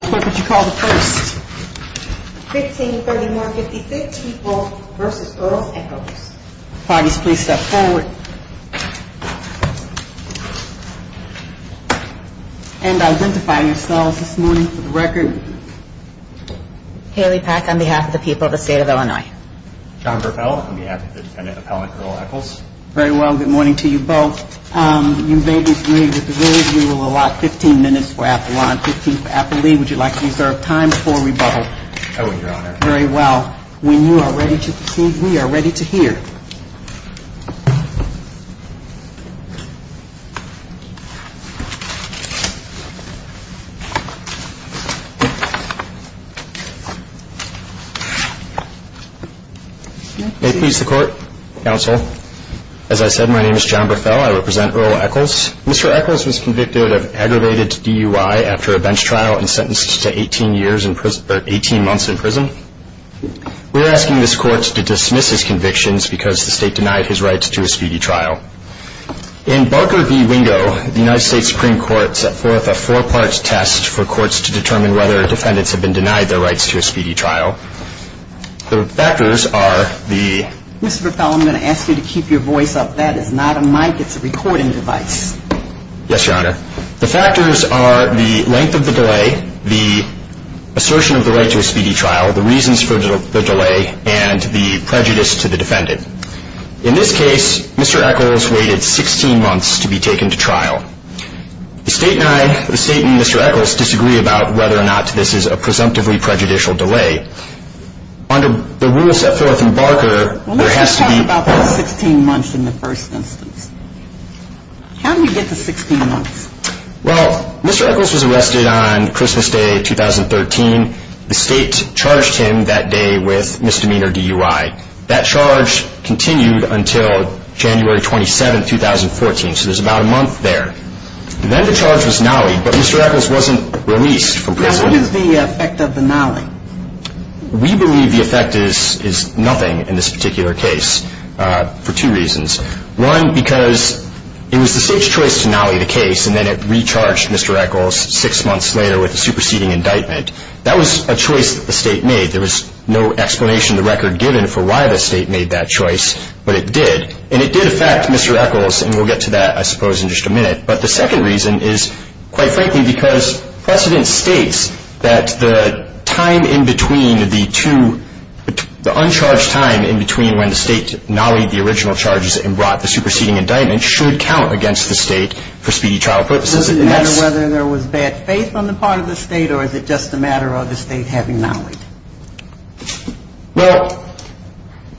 What would you call the first? 1531-56 People v. Earle Echols. Parties please step forward. And identify yourselves this morning for the record. Haley Pack on behalf of the people of the state of Illinois. John Grappella on behalf of the defendant appellant Earle Echols. Very well, good morning to you both. You may disagree with the rules. You will allot 15 minutes for appellant, 15 for appellee. Would you like to reserve time for rebuttal? I will, Your Honor. Very well. When you are ready to proceed, we are ready to hear. May it please the Court, Counsel. As I said, my name is John Grappella. I represent Earle Echols. Mr. Echols was convicted of aggravated DUI after a bench trial and sentenced to 18 months in prison. We are asking this Court to dismiss his convictions because the state denied his rights to a speedy trial. In Barker v. Wingo, the United States Supreme Court set forth a four-part test for courts to determine whether defendants have been denied their rights to a speedy trial. The factors are the- Mr. Grappella, I'm going to ask you to keep your voice up. That is not a mic. It's a recording device. Yes, Your Honor. The factors are the length of the delay, the assertion of the right to a speedy trial, the reasons for the delay, and the prejudice to the defendant. In this case, Mr. Echols waited 16 months to be taken to trial. The state and Mr. Echols disagree about whether or not this is a presumptively prejudicial delay. Under the rules set forth in Barker, there has to be- How did he get to 16 months? Well, Mr. Echols was arrested on Christmas Day, 2013. The state charged him that day with misdemeanor DUI. That charge continued until January 27, 2014, so there's about a month there. Then the charge was nollied, but Mr. Echols wasn't released from prison. Now, what is the effect of the nollie? We believe the effect is nothing in this particular case for two reasons. One, because it was the state's choice to nollie the case, and then it recharged Mr. Echols six months later with a superseding indictment. That was a choice that the state made. There was no explanation in the record given for why the state made that choice, but it did. And it did affect Mr. Echols, and we'll get to that, I suppose, in just a minute. But the second reason is, quite frankly, because precedent states that the time in between the two- the uncharged time in between when the state nollied the original charges and brought the superseding indictment should count against the state for speedy trial purposes. Does it matter whether there was bad faith on the part of the state, or is it just a matter of the state having nollied? Well,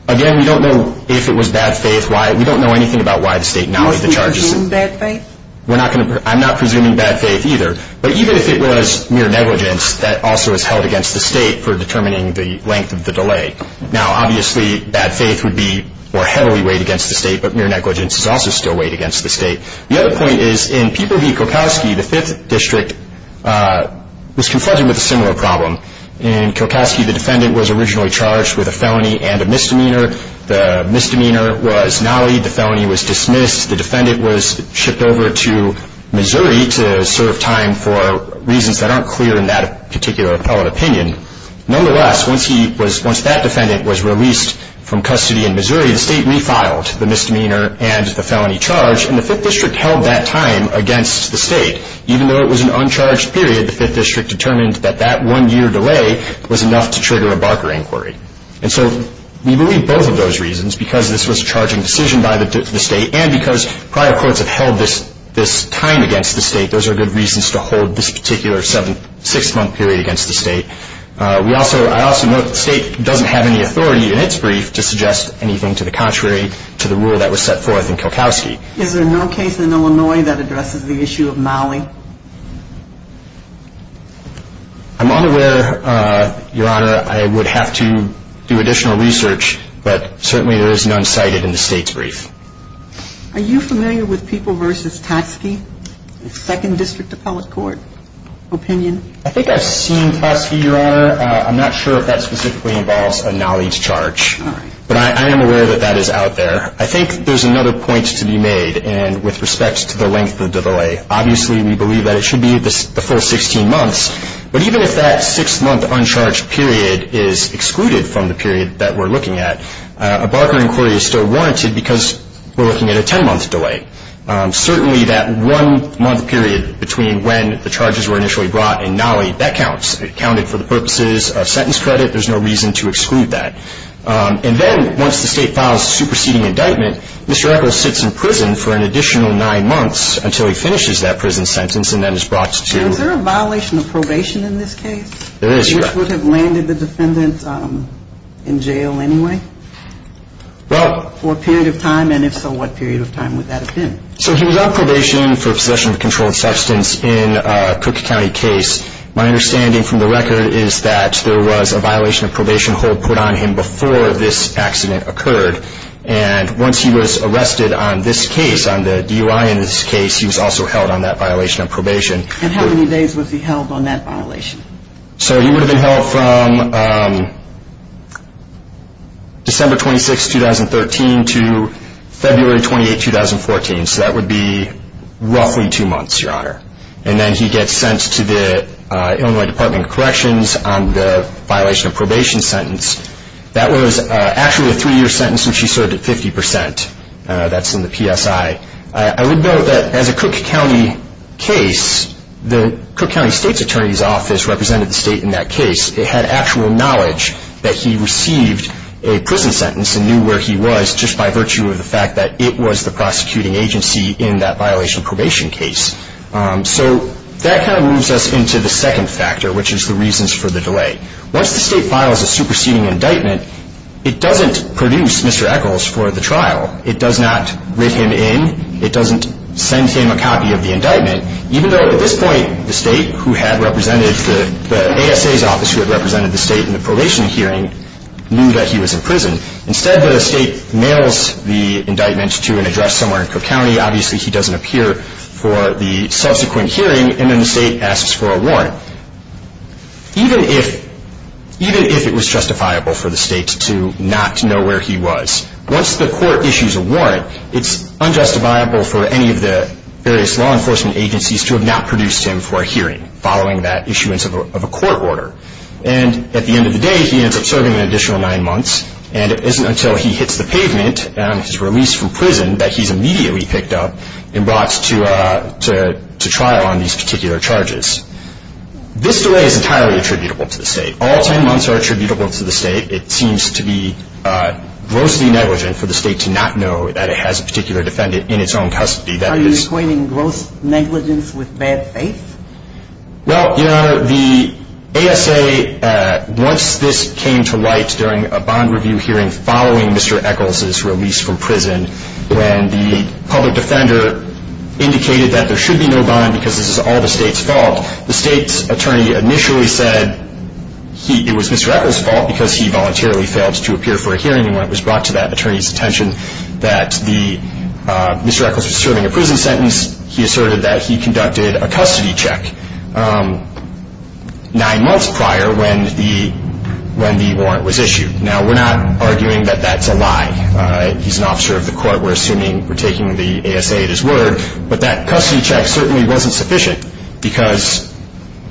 again, we don't know if it was bad faith. We don't know anything about why the state nollied the charges. Do you presume bad faith? I'm not presuming bad faith either. But even if it was mere negligence, that also is held against the state for determining the length of the delay. Now, obviously, bad faith would be more heavily weighed against the state, but mere negligence is also still weighed against the state. The other point is, in Pieper v. Kulkowski, the Fifth District was confronted with a similar problem. In Kulkowski, the defendant was originally charged with a felony and a misdemeanor. The misdemeanor was nollied. The felony was dismissed. The defendant was shipped over to Missouri to serve time for reasons that aren't clear in that particular appellate opinion. Nonetheless, once that defendant was released from custody in Missouri, the state refiled the misdemeanor and the felony charge, and the Fifth District held that time against the state. Even though it was an uncharged period, the Fifth District determined that that one-year delay was enough to trigger a Barker inquiry. And so we believe both of those reasons, because this was a charging decision by the state and because prior courts have held this time against the state, those are good reasons to hold this particular six-month period against the state. I also note that the state doesn't have any authority in its brief to suggest anything to the contrary to the rule that was set forth in Kulkowski. Is there no case in Illinois that addresses the issue of nollie? I'm unaware, Your Honor. I would have to do additional research, but certainly there is none cited in the state's brief. Are you familiar with People v. Totski, the Second District Appellate Court opinion? I think I've seen Totski, Your Honor. I'm not sure if that specifically involves a nollie charge. All right. But I am aware that that is out there. I think there's another point to be made, and with respect to the length of the delay. Obviously we believe that it should be the full 16 months, but even if that six-month uncharged period is excluded from the period that we're looking at, a Barker inquiry is still warranted because we're looking at a 10-month delay. Certainly that one-month period between when the charges were initially brought and nollie, that counts. It counted for the purposes of sentence credit. There's no reason to exclude that. And then once the state files a superseding indictment, Mr. Echols sits in prison for an additional nine months until he finishes that prison sentence and then is brought to... Is there a violation of probation in this case? There is, Your Honor. Which would have landed the defendant in jail anyway? Well... For a period of time, and if so, what period of time would that have been? So he was on probation for possession of a controlled substance in a Cook County case. My understanding from the record is that there was a violation of probation hold put on him before this accident occurred. And once he was arrested on this case, on the DUI in this case, he was also held on that violation of probation. And how many days was he held on that violation? So he would have been held from December 26, 2013 to February 28, 2014. So that would be roughly two months, Your Honor. And then he gets sent to the Illinois Department of Corrections on the violation of probation sentence. That was actually a three-year sentence, and she served it 50 percent. That's in the PSI. I would note that as a Cook County case, the Cook County State's Attorney's Office represented the state in that case. It had actual knowledge that he received a prison sentence and knew where he was just by virtue of the fact that it was the prosecuting agency in that violation of probation case. So that kind of moves us into the second factor, which is the reasons for the delay. Once the state files a superseding indictment, it doesn't produce Mr. Echols for the trial. It does not write him in. It doesn't send him a copy of the indictment, even though at this point the state who had represented the ASA's office who had represented the state in the probation hearing knew that he was in prison. Instead, the state mails the indictment to an address somewhere in Cook County. Obviously, he doesn't appear for the subsequent hearing, and then the state asks for a warrant, even if it was justifiable for the state to not know where he was. Once the court issues a warrant, it's unjustifiable for any of the various law enforcement agencies to have not produced him for a hearing following that issuance of a court order. And at the end of the day, he ends up serving an additional nine months, and it isn't until he hits the pavement and is released from prison that he's immediately picked up and brought to trial on these particular charges. This delay is entirely attributable to the state. All 10 months are attributable to the state. It seems to be grossly negligent for the state to not know that it has a particular defendant in its own custody. Are you equating gross negligence with bad faith? Well, Your Honor, the ASA, once this came to light during a bond review hearing following Mr. Echols' release from prison, when the public defender indicated that there should be no bond because this is all the state's fault, the state's attorney initially said it was Mr. Echols' fault because he voluntarily failed to appear for a hearing. When it was brought to that attorney's attention that Mr. Echols was serving a prison sentence, he asserted that he conducted a custody check nine months prior when the warrant was issued. Now, we're not arguing that that's a lie. He's an officer of the court. We're assuming we're taking the ASA at his word. But that custody check certainly wasn't sufficient because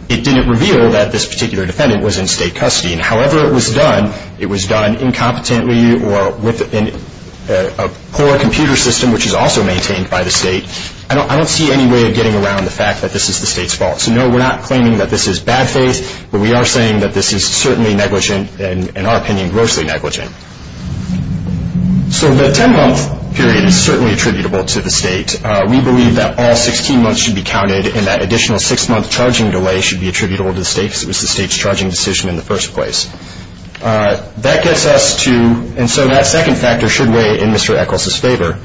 it didn't reveal that this particular defendant was in state custody. And however it was done, it was done incompetently or with a poor computer system, which is also maintained by the state. I don't see any way of getting around the fact that this is the state's fault. So, no, we're not claiming that this is bad faith. But we are saying that this is certainly negligent and, in our opinion, grossly negligent. So the 10-month period is certainly attributable to the state. We believe that all 16 months should be counted and that additional six-month charging delay should be attributable to the state because it was the state's charging decision in the first place. That gets us to, and so that second factor should weigh in Mr. Echols' favor,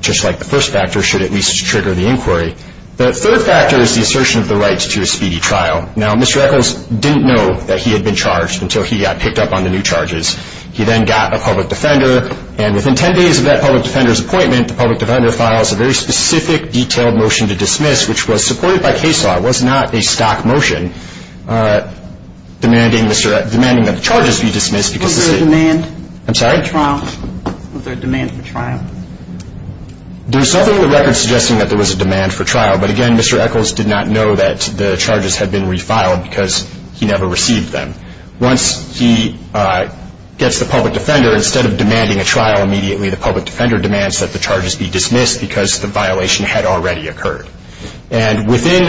just like the first factor should at least trigger the inquiry. The third factor is the assertion of the rights to a speedy trial. Now, Mr. Echols didn't know that he had been charged until he got picked up on the new charges. He then got a public defender, and within 10 days of that public defender's appointment, the public defender files a very specific detailed motion to dismiss, which was supported by case law, was not a stock motion, demanding that the charges be dismissed. Was there a demand? I'm sorry? Was there a demand for trial? There is nothing in the record suggesting that there was a demand for trial. But, again, Mr. Echols did not know that the charges had been refiled because he never received them. Once he gets the public defender, instead of demanding a trial immediately, the public defender demands that the charges be dismissed because the violation had already occurred. And within,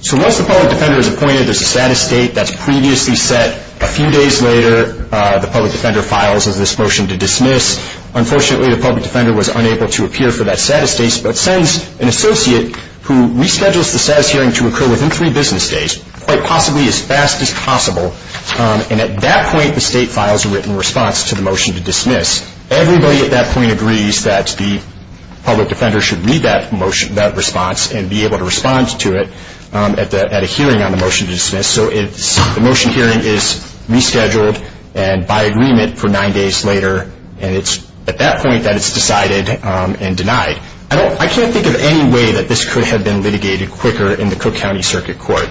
so once the public defender is appointed, there's a status date that's previously set. A few days later, the public defender files this motion to dismiss. Unfortunately, the public defender was unable to appear for that status date, but sends an associate who reschedules the status hearing to occur within three business days, quite possibly as fast as possible. And at that point, the state files a written response to the motion to dismiss. Everybody at that point agrees that the public defender should read that response and be able to respond to it at a hearing on the motion to dismiss. So the motion hearing is rescheduled and by agreement for nine days later, and it's at that point that it's decided and denied. I can't think of any way that this could have been litigated quicker in the Cook County Circuit Court.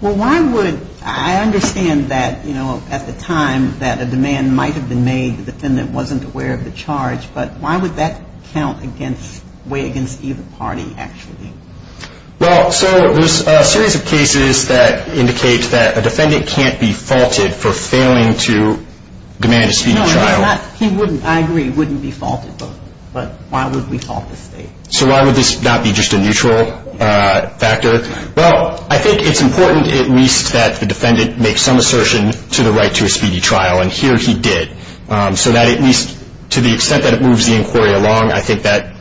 Well, why would, I understand that, you know, at the time that a demand might have been made, the defendant wasn't aware of the charge, but why would that count against, weigh against either party actually? Well, so there's a series of cases that indicate that a defendant can't be faulted for failing to demand a speedy trial. No, he's not, he wouldn't, I agree, wouldn't be faulted, but why would we fault the state? So why would this not be just a neutral factor? Well, I think it's important at least that the defendant makes some assertion to the right to a speedy trial, and here he did, so that at least to the extent that it moves the inquiry along, I think that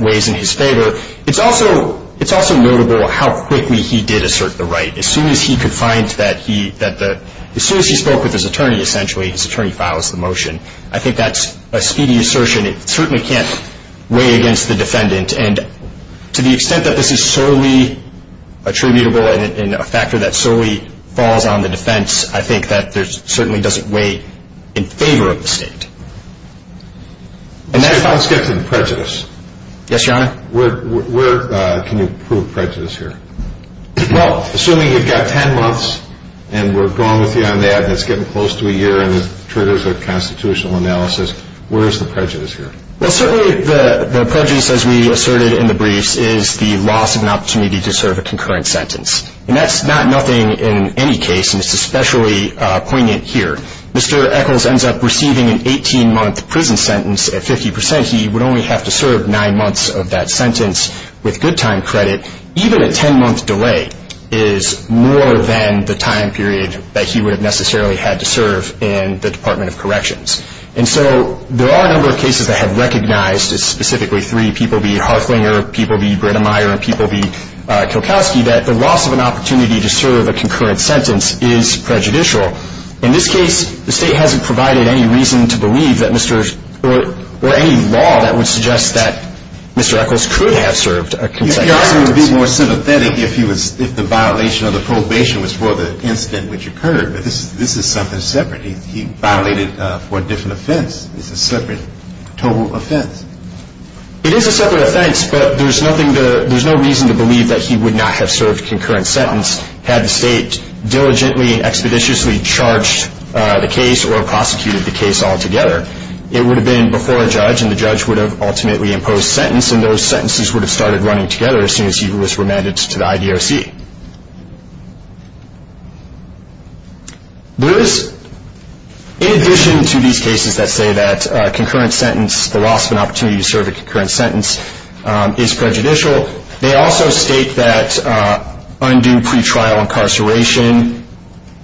weighs in his favor. It's also notable how quickly he did assert the right. As soon as he could find that he, as soon as he spoke with his attorney, essentially, his attorney files the motion. I think that's a speedy assertion. It certainly can't weigh against the defendant, and to the extent that this is solely attributable and a factor that solely falls on the defense, I think that there's, certainly doesn't weigh in favor of the state. And that's how it's getting prejudice. Yes, Your Honor. Where, where can you prove prejudice here? Well, assuming you've got 10 months, and we're going with you on that, and it's getting close to a year, and it triggers a constitutional analysis, where is the prejudice here? Well, certainly the prejudice, as we asserted in the briefs, is the loss of an opportunity to serve a concurrent sentence. And that's not nothing in any case, and it's especially poignant here. Mr. Echols ends up receiving an 18-month prison sentence at 50%. He would only have to serve nine months of that sentence with good time credit. Even a 10-month delay is more than the time period that he would have necessarily had to serve in the Department of Corrections. And so there are a number of cases that have recognized, specifically three people being Harflinger, people being Brennemeyer, and people being Kilkowski, that the loss of an opportunity to serve a concurrent sentence is prejudicial. In this case, the state hasn't provided any reason to believe that Mr. Or any law that would suggest that Mr. Echols could have served a concurrent sentence. It would be more sympathetic if the violation of the probation was for the incident which occurred, but this is something separate. He violated for a different offense. It's a separate total offense. It is a separate offense, but there's no reason to believe that he would not have served a concurrent sentence had the state diligently and expeditiously charged the case or prosecuted the case altogether. It would have been before a judge, and the judge would have ultimately imposed sentence, and those sentences would have started running together as soon as he was remanded to the IDOC. There is, in addition to these cases that say that a concurrent sentence, the loss of an opportunity to serve a concurrent sentence, is prejudicial, they also state that undue pretrial incarceration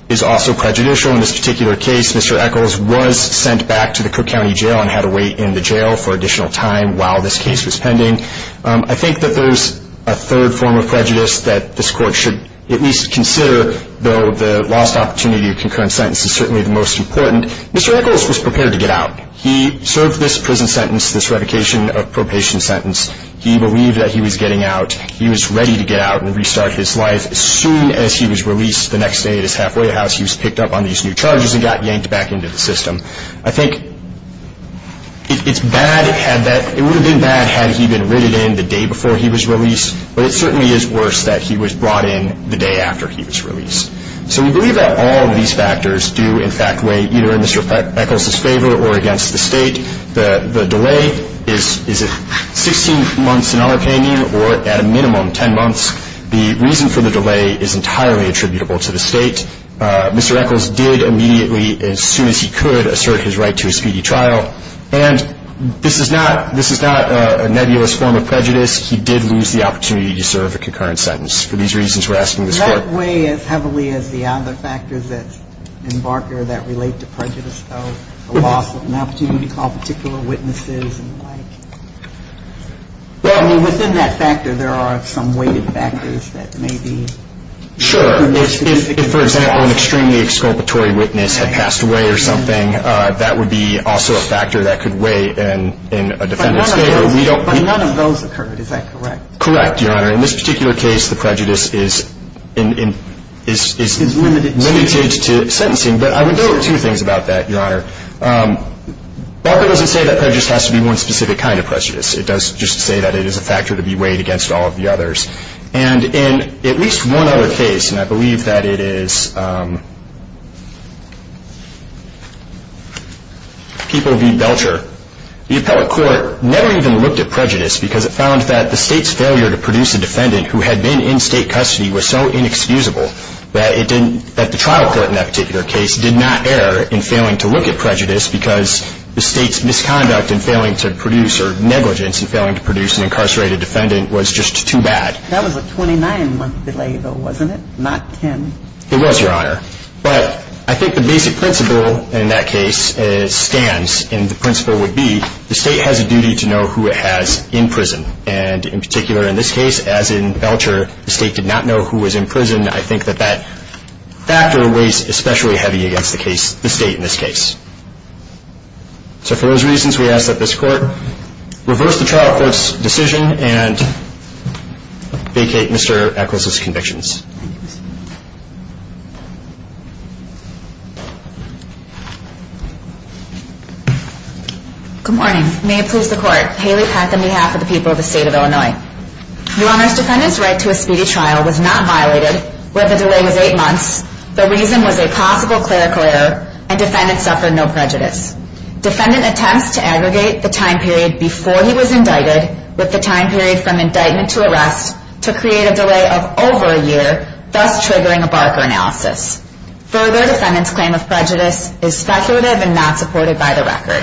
is also prejudicial. In this particular case, Mr. Echols was sent back to the Cook County Jail and had to wait in the jail for additional time while this case was pending. I think that there's a third form of prejudice that this court should at least consider, though the lost opportunity of concurrent sentence is certainly the most important. Mr. Echols was prepared to get out. He served this prison sentence, this revocation of probation sentence. He believed that he was getting out. He was ready to get out and restart his life. As soon as he was released the next day at his halfway house, he was picked up on these new charges and got yanked back into the system. I think it's bad, it would have been bad had he been written in the day before he was released, but it certainly is worse that he was brought in the day after he was released. So we believe that all of these factors do, in fact, weigh either in Mr. Echols' favor or against the State. The delay is 16 months in our opinion or, at a minimum, 10 months. The reason for the delay is entirely attributable to the State. Mr. Echols did immediately, as soon as he could, assert his right to a speedy trial. And this is not a nebulous form of prejudice. He did lose the opportunity to serve a concurrent sentence. For these reasons, we're asking this Court to consider. That weighs heavily as the other factors that embark or that relate to prejudice, though, the loss of an opportunity to call particular witnesses and the like. Well, I mean, within that factor, there are some weighted factors that may be significant. Sure. If, for example, an extremely exculpatory witness had passed away or something, that would be also a factor that could weigh in a defendant's favor. But none of those occurred, is that correct? Correct, Your Honor. In this particular case, the prejudice is limited to sentencing. But I would note two things about that, Your Honor. Belcher doesn't say that prejudice has to be one specific kind of prejudice. It does just say that it is a factor to be weighed against all of the others. And in at least one other case, and I believe that it is People v. Belcher, the appellate court never even looked at prejudice because it found that the State's failure to produce a defendant who had been in State custody was so inexcusable that the trial court in that particular case did not err in failing to look at prejudice because the State's misconduct in failing to produce or negligence in failing to produce an incarcerated defendant was just too bad. That was a 29-month delay, though, wasn't it, not 10? It was, Your Honor. But I think the basic principle in that case stands, and the principle would be the State has a duty to know who it has in prison. And in particular in this case, as in Belcher, the State did not know who was in prison. And I think that that factor weighs especially heavy against the State in this case. So for those reasons, we ask that this Court reverse the trial court's decision and vacate Mr. Echols's convictions. Good morning. May it please the Court. Haley Pack on behalf of the people of the State of Illinois. Your Honor, the defendant's right to a speedy trial was not violated, where the delay was 8 months, the reason was a possible clerical error, and defendants suffered no prejudice. Defendant attempts to aggregate the time period before he was indicted with the time period from indictment to arrest to create a delay of over a year, thus triggering a Barker analysis. Further, defendant's claim of prejudice is speculative and not supported by the record.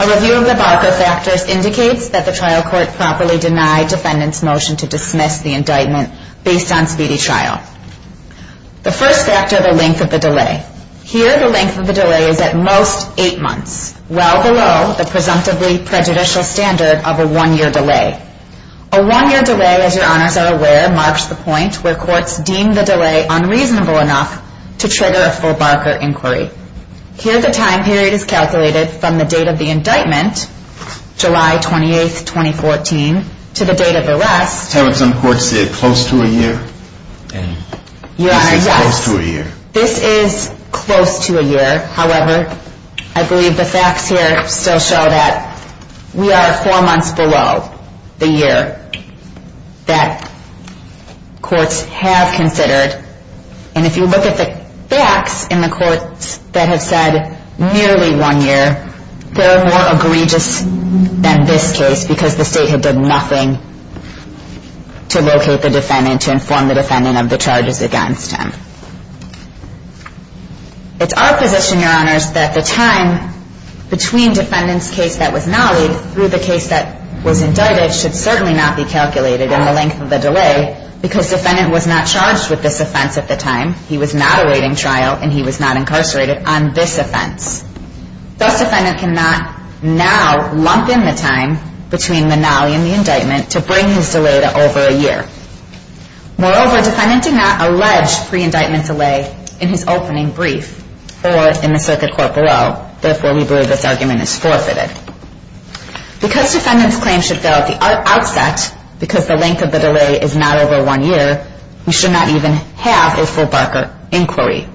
A review of the Barker factors indicates that the trial court properly denied defendant's motion to dismiss the indictment based on speedy trial. The first factor, the length of the delay. Here, the length of the delay is at most 8 months, well below the presumptively prejudicial standard of a 1-year delay. A 1-year delay, as your Honors are aware, marks the point where courts deem the delay unreasonable enough to trigger a full Barker inquiry. Here, the time period is calculated from the date of the indictment, July 28, 2014, to the date of arrest. So some courts say it's close to a year? Your Honor, yes. This is close to a year. This is close to a year. However, I believe the facts here still show that we are 4 months below the year that courts have considered. And if you look at the facts in the courts that have said nearly 1 year, they're more egregious than this case because the State had done nothing to locate the defendant, to inform the defendant of the charges against him. It's our position, Your Honors, that the time between defendant's case that was nollied through the case that was indicted should certainly not be calculated in the length of the delay because defendant was not charged with this offense at the time. He was not awaiting trial, and he was not incarcerated on this offense. Thus, defendant cannot now lump in the time between the nolly and the indictment to bring his delay to over a year. Moreover, defendant did not allege pre-indictment delay in his opening brief or in the circuit court below. Therefore, we believe this argument is forfeited. Because defendant's claim should go at the outset, because the length of the delay is not over 1 year, we should not even have a full Barker inquiry.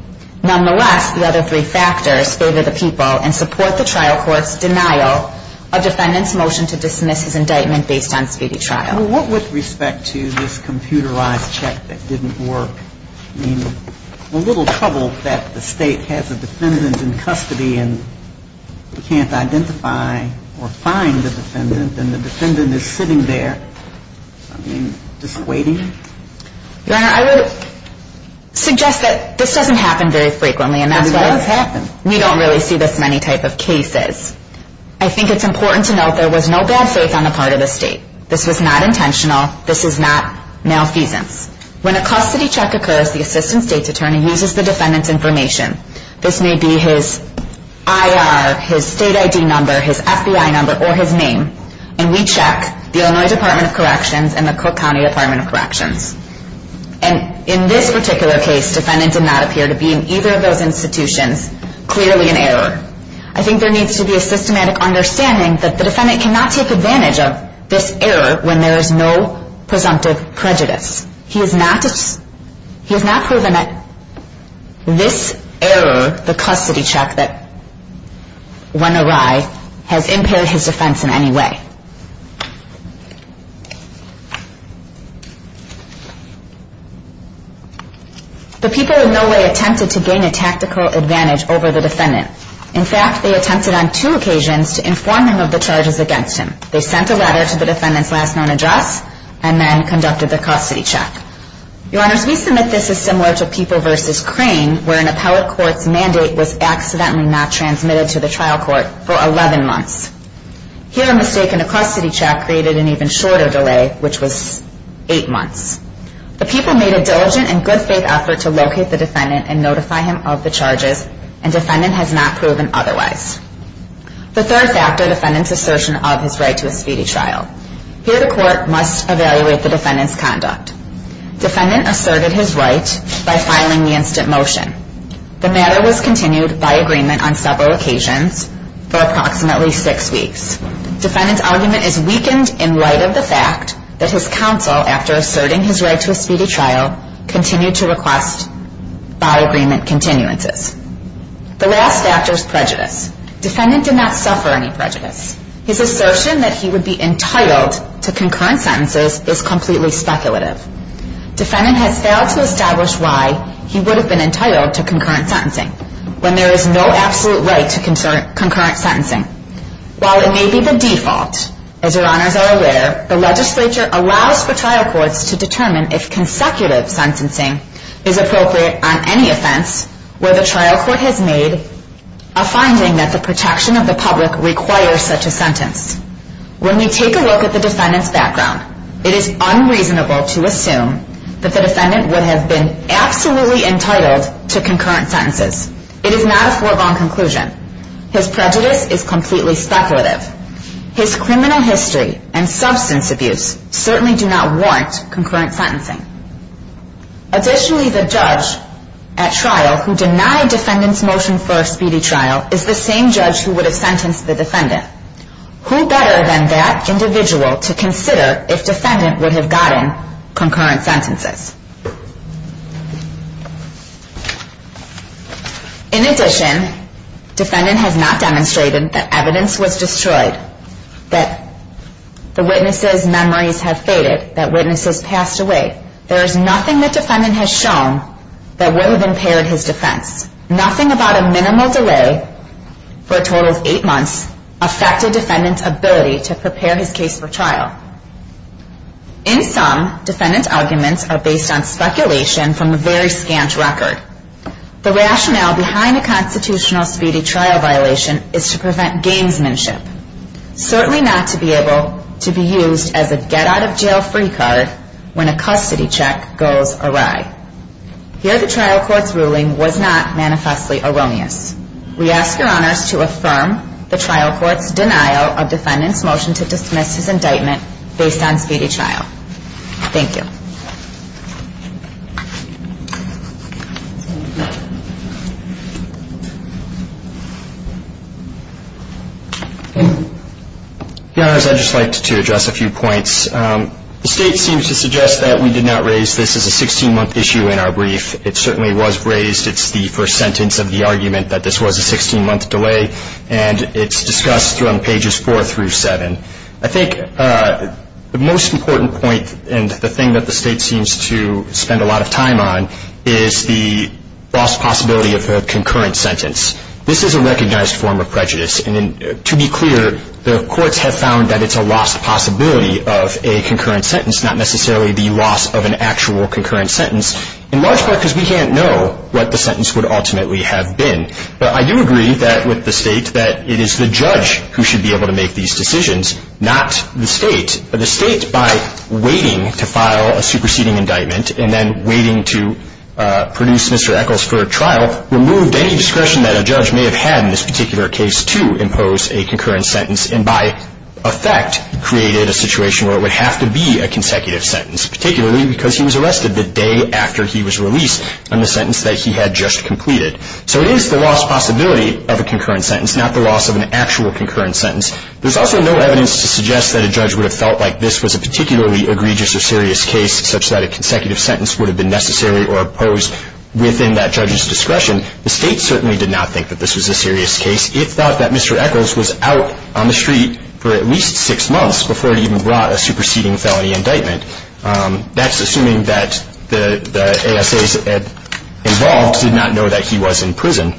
Nonetheless, the other 3 factors favor the people and support the trial court's denial of defendant's motion to dismiss his indictment based on speedy trial. Well, what with respect to this computerized check that didn't work, I mean, a little trouble that the State has a defendant in custody and can't identify or find the defendant, and the defendant is sitting there, I mean, just waiting. Your Honor, I would suggest that this doesn't happen very frequently, and that's why we don't really see this in any type of cases. I think it's important to note there was no bad faith on the part of the State. This was not intentional. This is not malfeasance. When a custody check occurs, the assistant State's attorney uses the defendant's information. This may be his IR, his State ID number, his FBI number, or his name, and we check the Illinois Department of Corrections and the Cook County Department of Corrections. And in this particular case, defendant did not appear to be in either of those institutions, clearly an error. I think there needs to be a systematic understanding that the defendant cannot take advantage of this error when there is no presumptive prejudice. He has not proven that this error, the custody check that went awry, has impaired his defense in any way. The people in no way attempted to gain a tactical advantage over the defendant. In fact, they attempted on two occasions to inform him of the charges against him. They sent a letter to the defendant's last known address and then conducted the custody check. Your Honors, we submit this is similar to People v. Crane where an appellate court's mandate was accidentally not transmitted to the trial court for 11 months. Here, a mistake in a custody check created an even shorter delay, which was 8 months. The people made a diligent and good faith effort to locate the defendant and notify him of the charges, and defendant has not proven otherwise. The third factor, defendant's assertion of his right to a speedy trial. Here, the court must evaluate the defendant's conduct. Defendant asserted his right by filing the instant motion. The matter was continued by agreement on several occasions for approximately 6 weeks. Defendant's argument is weakened in light of the fact that his counsel, after asserting his right to a speedy trial, continued to request by agreement continuances. The last factor is prejudice. Defendant did not suffer any prejudice. His assertion that he would be entitled to concurrent sentences is completely speculative. Defendant has failed to establish why he would have been entitled to concurrent sentencing when there is no absolute right to concurrent sentencing. While it may be the default, as Your Honors are aware, the legislature allows for trial courts to determine if consecutive sentencing is appropriate on any offense where the trial court has made a finding that the protection of the public requires such a sentence. When we take a look at the defendant's background, it is unreasonable to assume that the defendant would have been absolutely entitled to concurrent sentences. It is not a foregone conclusion. His prejudice is completely speculative. His criminal history and substance abuse certainly do not warrant concurrent sentencing. Additionally, the judge at trial who denied defendant's motion for a speedy trial is the same judge who would have sentenced the defendant. Who better than that individual to consider if defendant would have gotten concurrent sentences? In addition, defendant has not demonstrated that evidence was destroyed, that the witness's memories have faded, that witness has passed away. There is nothing that defendant has shown that would have impaired his defense. Nothing about a minimal delay for a total of eight months affected defendant's ability to prepare his case for trial. In sum, defendant's arguments are based on speculation from a very scant record. The rationale behind a constitutional speedy trial violation is to prevent gamesmanship, certainly not to be able to be used as a get-out-of-jail-free card when a custody check goes awry. Here, the trial court's ruling was not manifestly erroneous. We ask your honors to affirm the trial court's denial of defendant's motion to dismiss his indictment based on speedy trial. Thank you. Thank you. Your honors, I'd just like to address a few points. The State seems to suggest that we did not raise this as a 16-month issue in our brief. It certainly was raised. It's the first sentence of the argument that this was a 16-month delay, and it's discussed on pages 4 through 7. I think the most important point and the thing that the State seems to spend a lot of time on is the lost possibility of a concurrent sentence. This is a recognized form of prejudice, and to be clear, the courts have found that it's a lost possibility of a concurrent sentence, not necessarily the loss of an actual concurrent sentence, in large part because we can't know what the sentence would ultimately have been. But I do agree with the State that it is the judge who should be able to make these decisions, not the State. The State, by waiting to file a superseding indictment and then waiting to produce Mr. Eccles for a trial, removed any discretion that a judge may have had in this particular case to impose a concurrent sentence and by effect created a situation where it would have to be a consecutive sentence, particularly because he was arrested the day after he was released on the sentence that he had just completed. So it is the lost possibility of a concurrent sentence, not the loss of an actual concurrent sentence. There's also no evidence to suggest that a judge would have felt like this was a particularly egregious or serious case such that a consecutive sentence would have been necessary or opposed within that judge's discretion. The State certainly did not think that this was a serious case. It thought that Mr. Eccles was out on the street for at least six months before it even brought a superseding felony indictment. That's assuming that the ASAs involved did not know that he was in prison.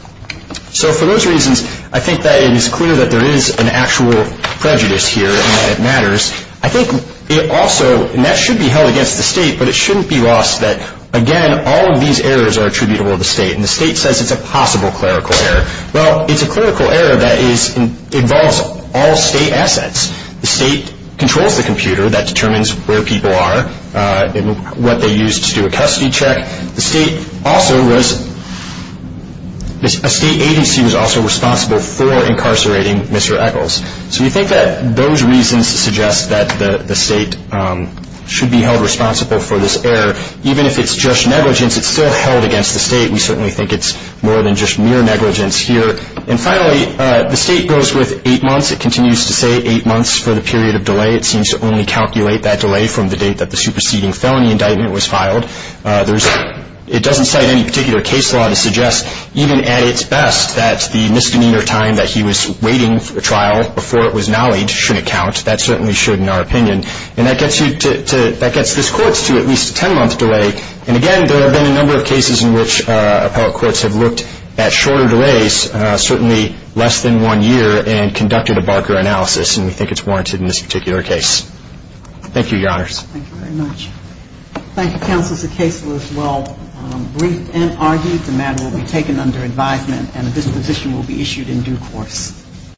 So for those reasons, I think that it is clear that there is an actual prejudice here and that it matters. I think it also, and that should be held against the State, but it shouldn't be lost that, again, all of these errors are attributable to the State, and the State says it's a possible clerical error. Well, it's a clerical error that involves all State assets. The State controls the computer that determines where people are and what they use to do a custody check. The State also was, a State agency was also responsible for incarcerating Mr. Eccles. So you think that those reasons suggest that the State should be held responsible for this error. Even if it's just negligence, it's still held against the State. We certainly think it's more than just mere negligence here. And finally, the State goes with eight months. It continues to say eight months for the period of delay. It seems to only calculate that delay from the date that the superseding felony indictment was filed. There's, it doesn't cite any particular case law to suggest, even at its best, that the misdemeanor time that he was waiting for the trial before it was nollied shouldn't count. That certainly shouldn't, in our opinion. And that gets you to, that gets this Court to at least a ten-month delay. And again, there have been a number of cases in which appellate courts have looked at shorter delays, certainly less than one year, and conducted a Barker analysis, and we think it's warranted in this particular case. Thank you, Your Honors. Thank you very much. Thank you, Counsel. The case was well briefed and argued. The matter will be taken under advisement, and a disposition will be issued in due course.